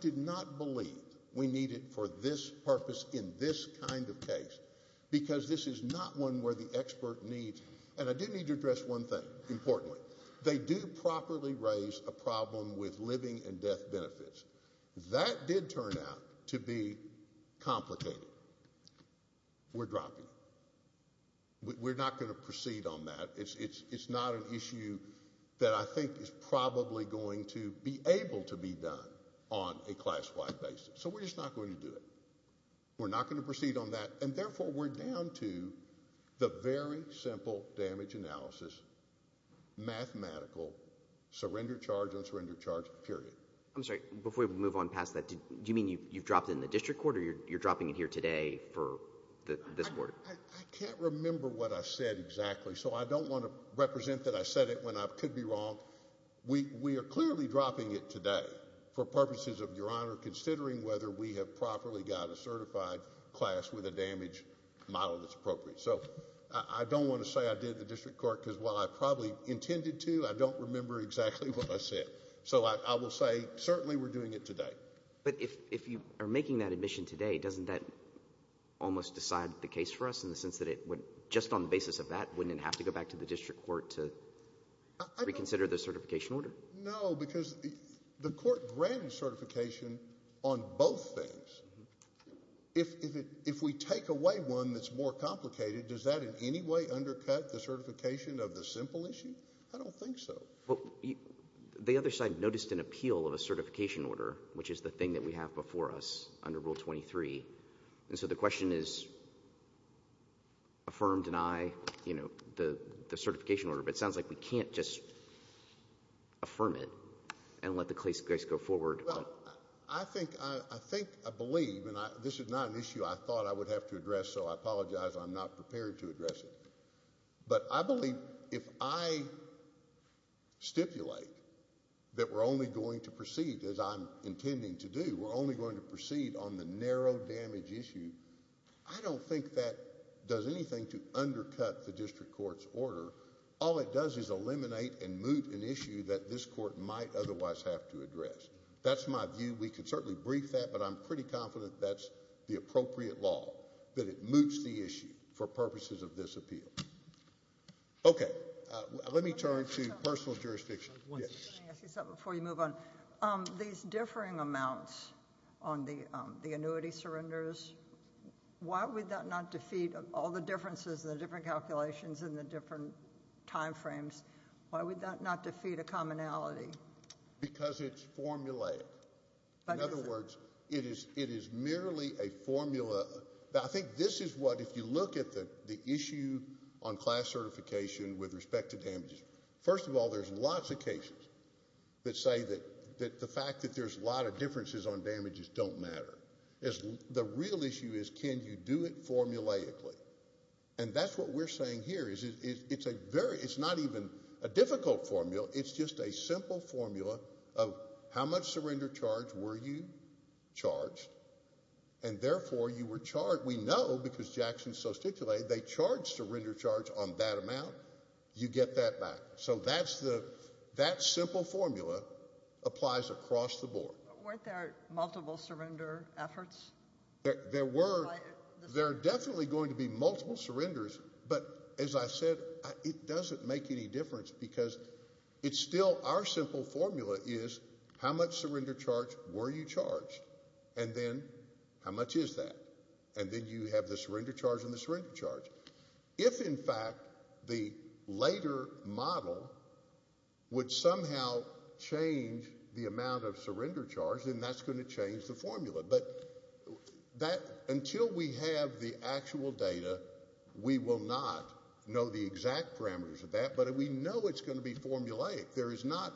did not believe we needed for this purpose in this kind of case because this is not one where the expert needs and I do need to address one thing. Importantly they do properly raise a problem with living and death benefits. That did turn out to be complicated. We're dropping it. We're not going to proceed on that. It's not an issue that I think is probably going to be able to be done on a class wide basis so we're just not going to do it. We're not going to proceed on that and therefore we're down to the very simple damage analysis mathematical surrender charge on surrender charge period. I'm sorry before we move on past that do you mean you've dropped it in the district court or you're dropping it here today for this board? I can't remember what I said exactly so I don't want to represent that I said it when I could be wrong. We are clearly dropping it today for purposes of your honor considering whether we have properly got a certified class with a damage model that's appropriate. So I don't want to say I did the district court because while I probably intended to I don't remember exactly what I said. So I will say certainly we're doing it today. But if you are making that admission today doesn't that almost decide the case for us in the sense that it would just on the basis of that wouldn't it have to go back to the district court to reconsider the certification order? No because the court granted certification on both things. If we take away one that's more complicated does that in any way undercut the certification of the simple issue? I don't think so. The other side noticed an appeal of a certification us under rule 23 and so the question is affirm, deny you know the certification order but it sounds like we can't just affirm it and let the case go forward. I think I believe and this is not an issue I thought I would have to address so I apologize I'm not prepared to address it. But I believe if I stipulate that we're only going to proceed as I'm intending to do we're only going to proceed on the narrow damage issue I don't think that that does anything to undercut the district court's order. All it does is eliminate and moot an issue that this court might otherwise have to address. That's my view we can certainly brief that but I'm pretty confident that's the appropriate law that it moots the issue for purposes of this appeal. Okay let me turn to personal jurisdiction. Before you move on these differing amounts on the annuity surrenders why would that not defeat all the differences and the different calculations and the different time frames? Why would that not defeat a commonality? Because it's formulaic. In other words it is merely a formula I think this is what if you look at the issue on class certification with respect to damages first of all there's lots of cases that say that the fact that there's a lot of differences on damages don't matter. The real issue is can you do it formulaically? And that's what we're saying here is it's a very it's not even a difficult formula it's just a simple formula of how much surrender charge were you charged and therefore you were charged we know because Jackson so stipulated they charge surrender charge on that amount you get that back. So that simple formula applies across the board. Weren't there multiple surrender efforts? There were. There are definitely going to be multiple surrenders but as I said it doesn't make any difference because it's still our simple formula is how much surrender charge were you charged and then how much is that? And then you have the surrender charge and the surrender charge. If in fact the later model would somehow change the amount of surrender charge then that's going to change the formula but until we have the actual data we will not know the exact parameters of that but we know it's going to be formulaic. There's no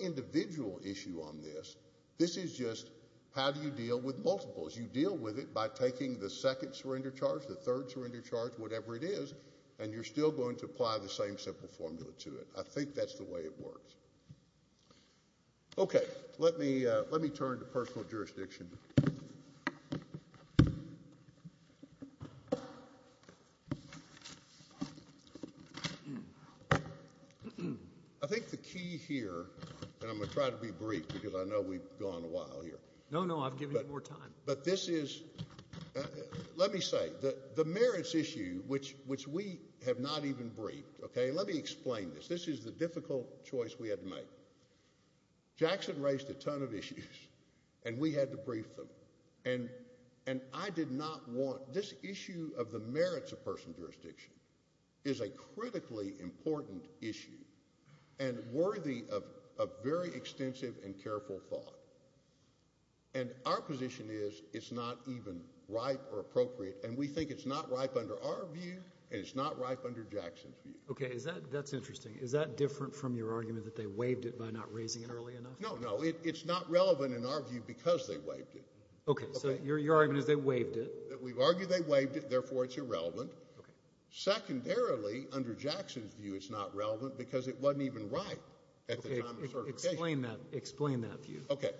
individual issue on this. This is just how do you deal with multiples? You deal with it by taking the second surrender charge, the third surrender charge whatever it is and you're still going to apply the same simple formula to it. I think that's the way it works. Okay. Let me turn to personal jurisdiction. I think the key here and I'm going to try to be brief because I know we've gone a while here. No, no. I've given you more time. But this is let me say the merits issue which we have not even briefed. Okay. Let me explain this. This is the difficult choice we had to make. Jackson raised a ton of issues and we had to brief them and I did not want this issue of the merits of personal jurisdiction is a critically important issue and worthy of very extensive and careful thought and our position is it's not even ripe or appropriate and we think it's not ripe under our view and it's not ripe under Jackson's view. Okay. That's interesting. Is that different from your argument that they waived it by not raising it early enough? No, no. It's not relevant in our view because they waived it. Okay. So your argument is they waived it. We argue they waived it therefore it's irrelevant. Secondarily, under Jackson's view it's not relevant because it wasn't even ripe at the time of certification. Explain that view. Okay.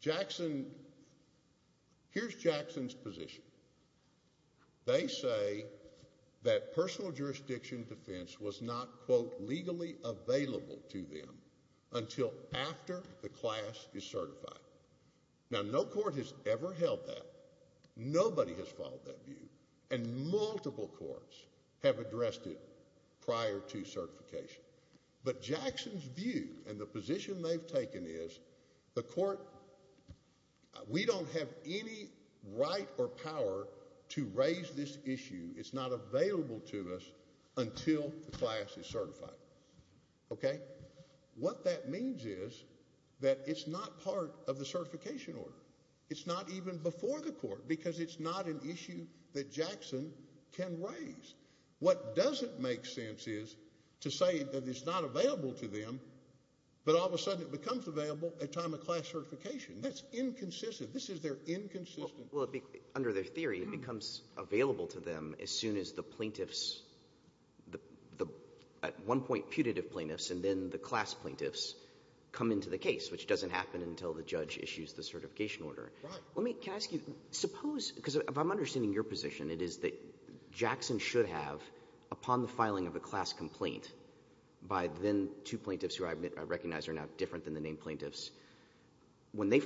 Jackson here's Jackson's position. They say that personal jurisdiction defense was not quote legally available to them until after the class is certified. Now no court has ever held that. Nobody has followed that view and multiple courts have addressed it prior to certification but Jackson's view and the position they've taken is the court, we don't have any right or power to raise this issue. It's not available to us until the class is certified. Okay. What that means is that it's not part of the certification order. It's not even before the court because it's not an issue that Jackson can raise. What doesn't make sense is to say that it's not available to them but all of a sudden it becomes available at time of class certification. That's inconsistent. This is their inconsistency. Under their theory it becomes available to them as soon as the plaintiffs the at one point putative plaintiffs and then the class plaintiffs come into the case which doesn't happen until the judge issues the certification order. Right. Can I ask you, suppose because if I'm understanding your position it is that Jackson should have upon the filing of a class complaint by then two plaintiffs who I recognize are now different than the named plaintiffs. When the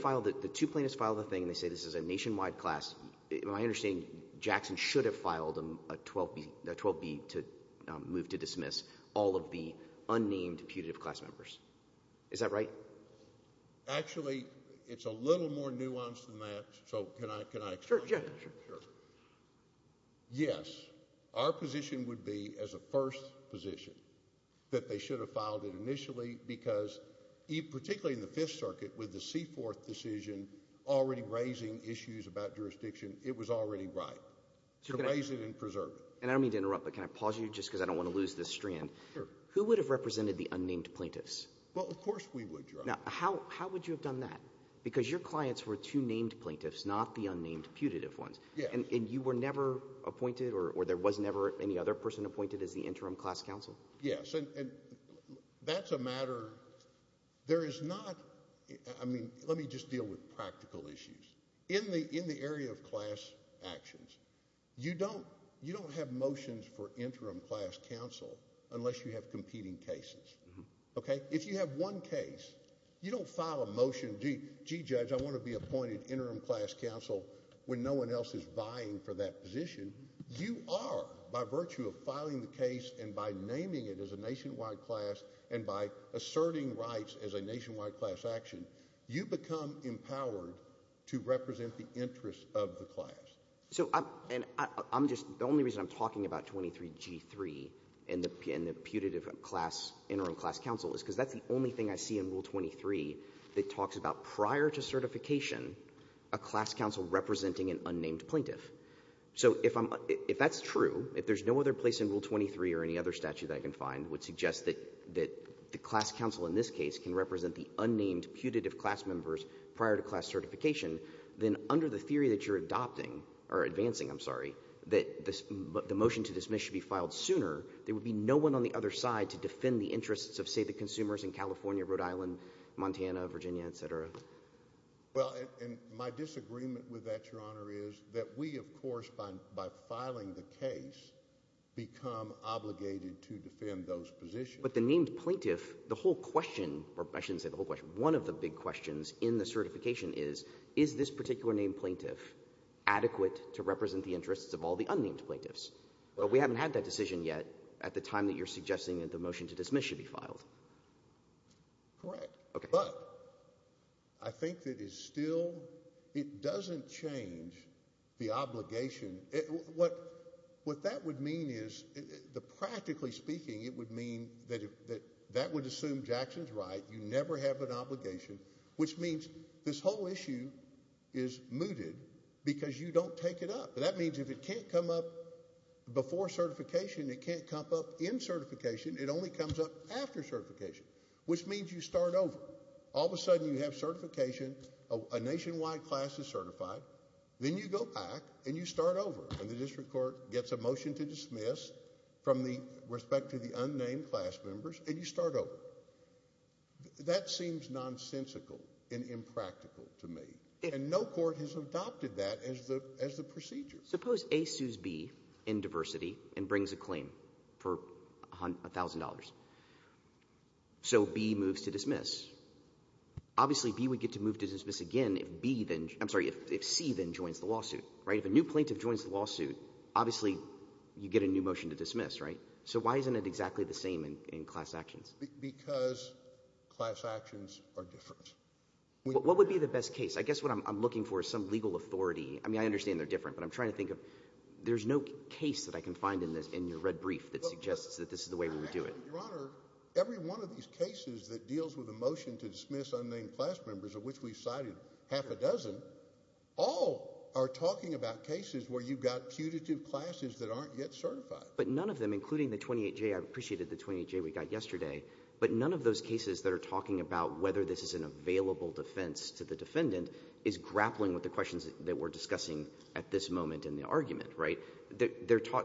two plaintiffs file the thing and they say this is a nationwide class am I understanding Jackson should have filed a 12B to move to dismiss all of the unnamed putative class members. Is that right? Actually it's a little more nuanced than that so can I explain? Sure. Yes. Our position would be as a first position that they should have filed it initially because particularly in the 5th circuit with the C4th decision already raising issues about jurisdiction it was already right. Raise it and preserve it. And I don't mean to interrupt but can I pause you just because I don't want to lose this strand. Who would have represented the unnamed plaintiffs? Well of course we would. How would you have done that? Because your clients were two named plaintiffs not were never appointed or there was never any other person appointed as the interim class counsel. Yes and that's a matter there is not let me just deal with practical issues in the area of class actions you don't have motions for interim class counsel unless you have competing cases. If you have one case you don't file a motion gee judge I want to be appointed interim class counsel when no one else is vying for that position you are by virtue of filing the case and by naming it as a nationwide class and by asserting rights as a nationwide class action you become empowered to represent the interest of the class. So I'm just the only reason I'm talking about 23 G3 and the putative class interim class counsel is because that's the only thing I see in rule 23 that talks about prior to certification a class counsel representing an unnamed plaintiff. So if that's true if there's no other place in rule 23 or any other statute I can find would suggest that the class counsel in this case can represent the unnamed putative class members prior to class certification then under the theory that you're adopting or advancing I'm sorry that the motion to dismiss should be filed sooner there would be no one on the other side to defend Rhode Island Montana Virginia etc. Well my disagreement with that your honor is that we of course by filing the case become obligated to defend those positions. But the named plaintiff the whole question or I shouldn't say the whole question one of the big questions in the certification is is this particular name plaintiff adequate to represent the interests of all the unnamed plaintiffs but we haven't had that decision yet at the time that you're suggesting that the motion to dismiss should be filed. Correct. But I think that is still it doesn't change the obligation what that would mean is the practically speaking it would mean that that would assume Jackson's right you never have an obligation which means this whole issue is mooted because you don't take it up that means if it can't come up before certification it can't come up in certification it only comes up after certification which means you start over all of a sudden you have certification a nationwide class is certified then you go back and you start over and the district court gets a motion to dismiss from the respect to the unnamed class members and you start over that seems nonsensical and impractical to me and no court has adopted that as the procedure suppose A sues B in diversity and brings a claim for a thousand dollars so B moves to dismiss obviously B would get to move to dismiss again if C then joins the lawsuit if a new plaintiff joins the lawsuit obviously you get a new motion to dismiss so why isn't it exactly the same in class actions because class actions are different what would be the best case I guess what I'm looking for is some legal authority I mean I understand they're different but I'm trying to think of there's no case that I can find in your red brief that suggests that this is the way we would do it your honor every one of these cases that deals with a motion to dismiss unnamed class members of which we've cited half a dozen all are talking about cases where you've got putative classes that aren't yet certified but none of them including the 28J I appreciated the 28J we got yesterday but none of those cases that are talking about whether this is an available defense to the defendant is grappling with the questions that we're discussing at this moment in the argument right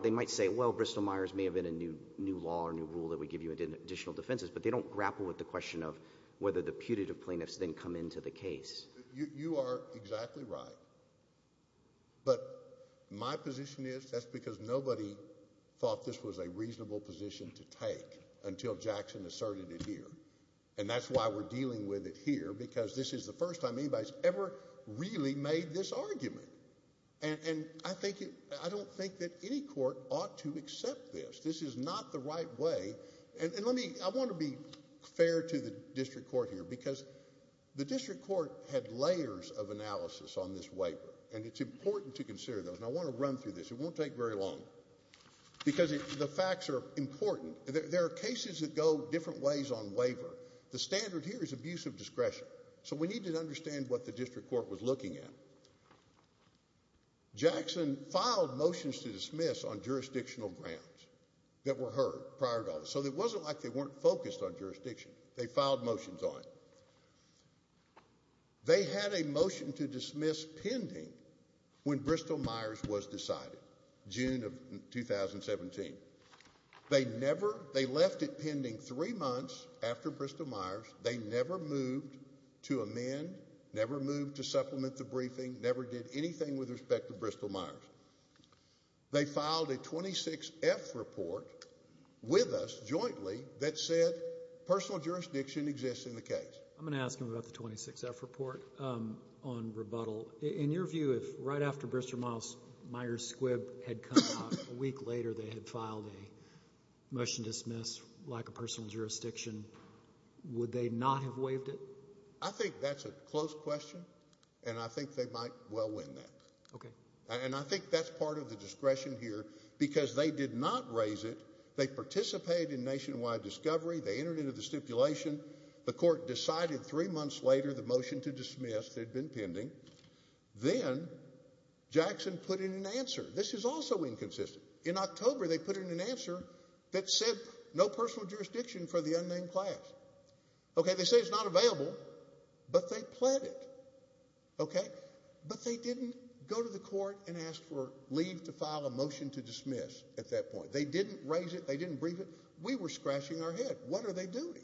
they might say well Bristol Myers may have been a new law or new rule that would give you additional defenses but they don't grapple with the question of whether the putative plaintiffs then come into the case you are exactly right but my position is that's because nobody thought this was a reasonable position to take until Jackson asserted it here and that's why we're dealing with it here because this is the first time anybody's ever really made this argument and I think I don't think that any court ought to accept this this is not the right way and let me I want to be fair to the district court here because the district court had layers of analysis on this waiver and it's important to consider those and I want to run through this it won't take very long because the facts are important there are cases that go different ways on waiver the standard here is abuse of discretion so we need to understand what the district court was looking at Jackson filed motions to dismiss on jurisdictional grounds that were heard prior to so it wasn't like they weren't focused on jurisdiction they filed motions on they had a motion to dismiss pending when Bristol Myers was decided June of 2017 they never they left it pending three months after Bristol Myers they never moved to amend never moved to supplement the briefing never did anything with respect to Bristol Myers they filed a 26 F report with us jointly that said personal jurisdiction exists in the case I'm going to ask him about the 26 F report on rebuttal in your view if right after Bristol Myers Squibb had come out a week later they had filed a motion to dismiss like a personal jurisdiction would they not have waived it I think that's a close question and I think they might well win that and I think that's part of the discretion here because they did not raise it they participated in nationwide discovery they entered into the stipulation the court decided three months later the motion to dismiss had been pending then Jackson put in an answer this is also inconsistent in October they put in an answer that said no personal jurisdiction for the unnamed class okay they say it's not available but they pled it but they didn't go to the court and ask for leave to file a motion to dismiss at that point they didn't raise it they didn't brief it we were scratching our head what are they doing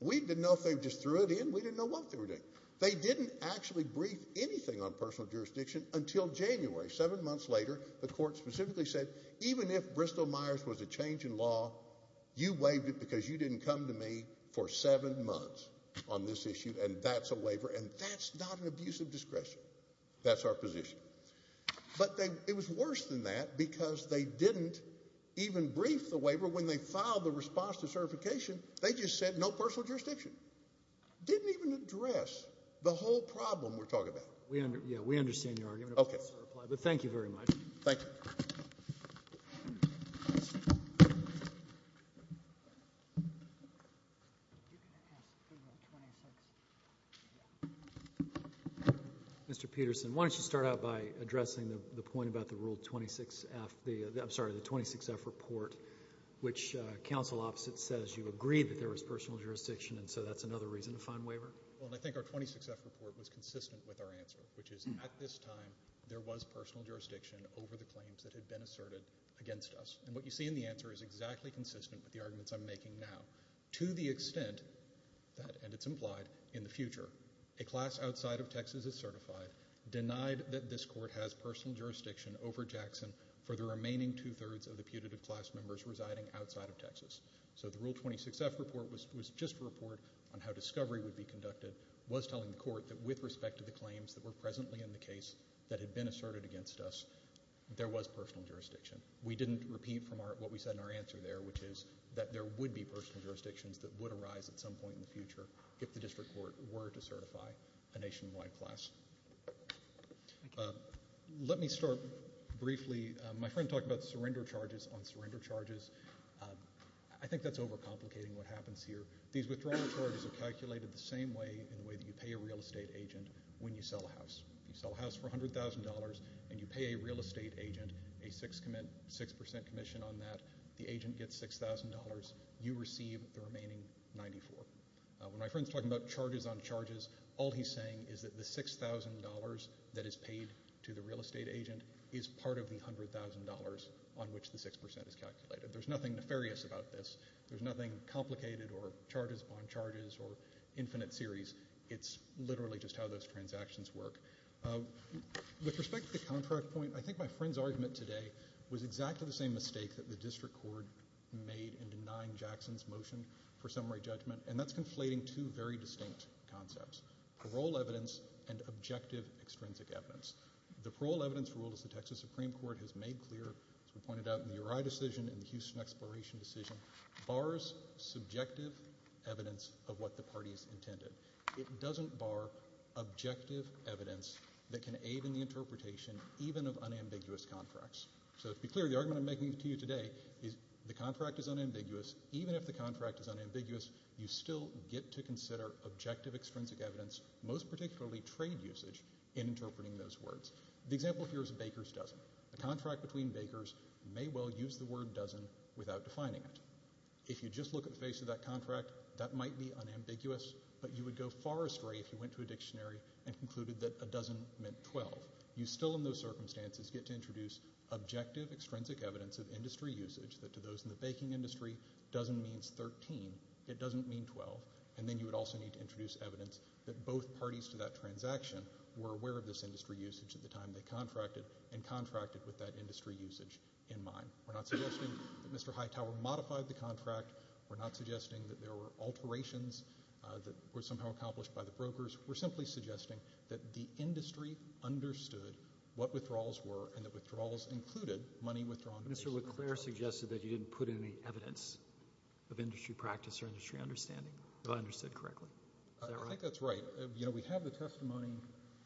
we didn't know if they just threw it in we didn't know what they were doing they didn't actually brief anything on personal jurisdiction until January seven months later the court specifically said even if Bristol Myers was a change in law you waived it because you didn't come to me for seven months on this issue and that's a waiver and that's not an abusive discretion that's our position but it was worse than that because they didn't even brief the waiver when they filed the response to certification they just said no personal jurisdiction didn't even address the whole problem we're talking about we understand your argument but thank you very much Mr. Peterson why don't you start out by addressing the point about the rule 26 F I'm sorry the 26 F report which council opposite says you agreed that there was personal jurisdiction and so that's another reason to find waiver well I think our 26 F report was consistent with our answer which is at this time there was personal jurisdiction over the claims that had been asserted against us and what you see in the answer is exactly consistent with the arguments I'm making now to the extent that and it's implied in the future a class outside of Texas is certified denied that this court has personal jurisdiction over Jackson for the remaining two thirds of the putative class members residing outside of Texas so the rule 26 F report was just a report on how discovery would be conducted was telling the court that with respect to the claims that were presently in the case that had been asserted against us there was personal jurisdiction we didn't repeat from what we said in our answer there which is that there would be personal jurisdictions that would arise at some point in the future if the district court were to certify a nationwide class let me start briefly my friend talked about surrender charges on surrender charges I think that's over complicating what happens here these withdrawing charges are calculated the same way in the way that you pay a real estate agent when you sell a house you sell a house for $100,000 and you pay a real estate agent a 6% commission on that the agent gets $6,000 you receive the remaining 94 when my friend's talking about charges on charges all he's saying is that the $6,000 that is paid to the real estate agent is part of the $100,000 on which the 6% is calculated there's nothing nefarious about this there's nothing complicated or charges on charges or infinite series it's literally just how those transactions work with respect to the contract point I think my friend's argument today was exactly the same mistake that the district court made in denying Jackson's motion for summary judgment and that's conflating two very distinct concepts parole evidence and objective extrinsic evidence the parole evidence ruled as the Texas Supreme Court has made clear as we pointed out in the Uri decision in the Houston Exploration decision bars subjective evidence of what the party's intended it doesn't bar objective evidence that can aid in the contracts so to be clear the argument I'm making to you today is the contract is unambiguous even if the contract is unambiguous you still get to consider objective extrinsic evidence most particularly trade usage in interpreting those words the example here is a baker's dozen the contract between bakers may well use the word dozen without defining it if you just look at the face of that contract that might be unambiguous but you would go far astray if you went to a dictionary and concluded that a dozen meant 12 you still in those circumstances get to introduce objective extrinsic evidence of industry usage that to those in the baking industry dozen means 13 it doesn't mean 12 and then you would also need to introduce evidence that both parties to that transaction were aware of this industry usage at the time they contracted and contracted with that industry usage in mind we're not suggesting that Mr. Hightower modified the contract we're not suggesting that there were alterations that were somehow accomplished by the brokers we're simply suggesting that the industry understood what withdrawals were and that withdrawals included money withdrawn Mr. Leclerc suggested that you didn't put any evidence of industry practice or industry understanding if I understood correctly I think that's right you know we have the testimony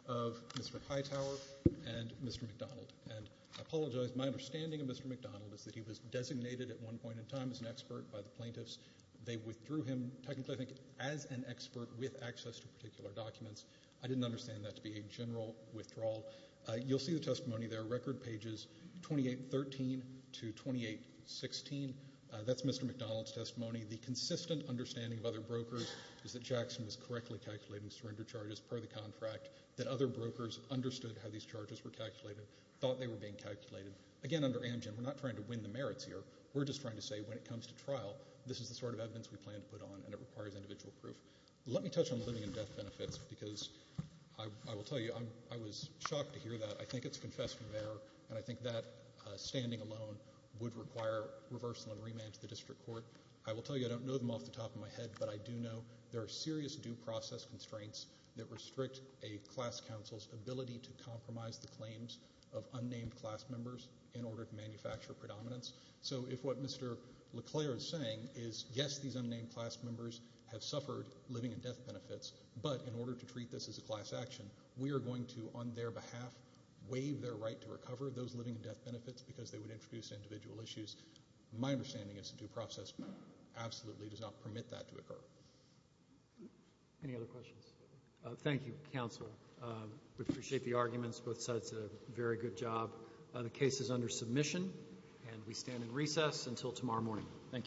of Mr. Hightower and Mr. McDonald and I apologize my understanding of Mr. McDonald is that he was designated at one point in time as an expert by the plaintiffs they withdrew him technically I think as an expert with access to I understand that to be a general withdrawal you'll see the testimony there record pages 2813 to 2816 that's Mr. McDonald's testimony the consistent understanding of other brokers is that Jackson was correctly calculating surrender charges per the contract that other brokers understood how these charges were calculated thought they were being calculated again under Amgen we're not trying to win the merits here we're just trying to say when it comes to trial this is the sort of evidence we plan to put on and it requires individual proof let me touch on living and death benefits because I will tell you I was shocked to hear that I think it's confessed from there and I think that standing alone would require reversal and remand to the district court I will tell you I don't know them off the top of my head but I do know there are serious due process constraints that restrict a class council's ability to compromise the claims of unnamed class members in order to manufacture predominance so if what Mr. Leclerc is saying is yes these unnamed class members have suffered living and death benefits but in order to treat this as a class action we are going to on their behalf waive their right to recover those living and death benefits because they would introduce individual issues my understanding is the due process absolutely does not permit that to occur any other questions thank you counsel we appreciate the arguments both sides did a very good job the case is under submission and we stand in recess until tomorrow morning thank you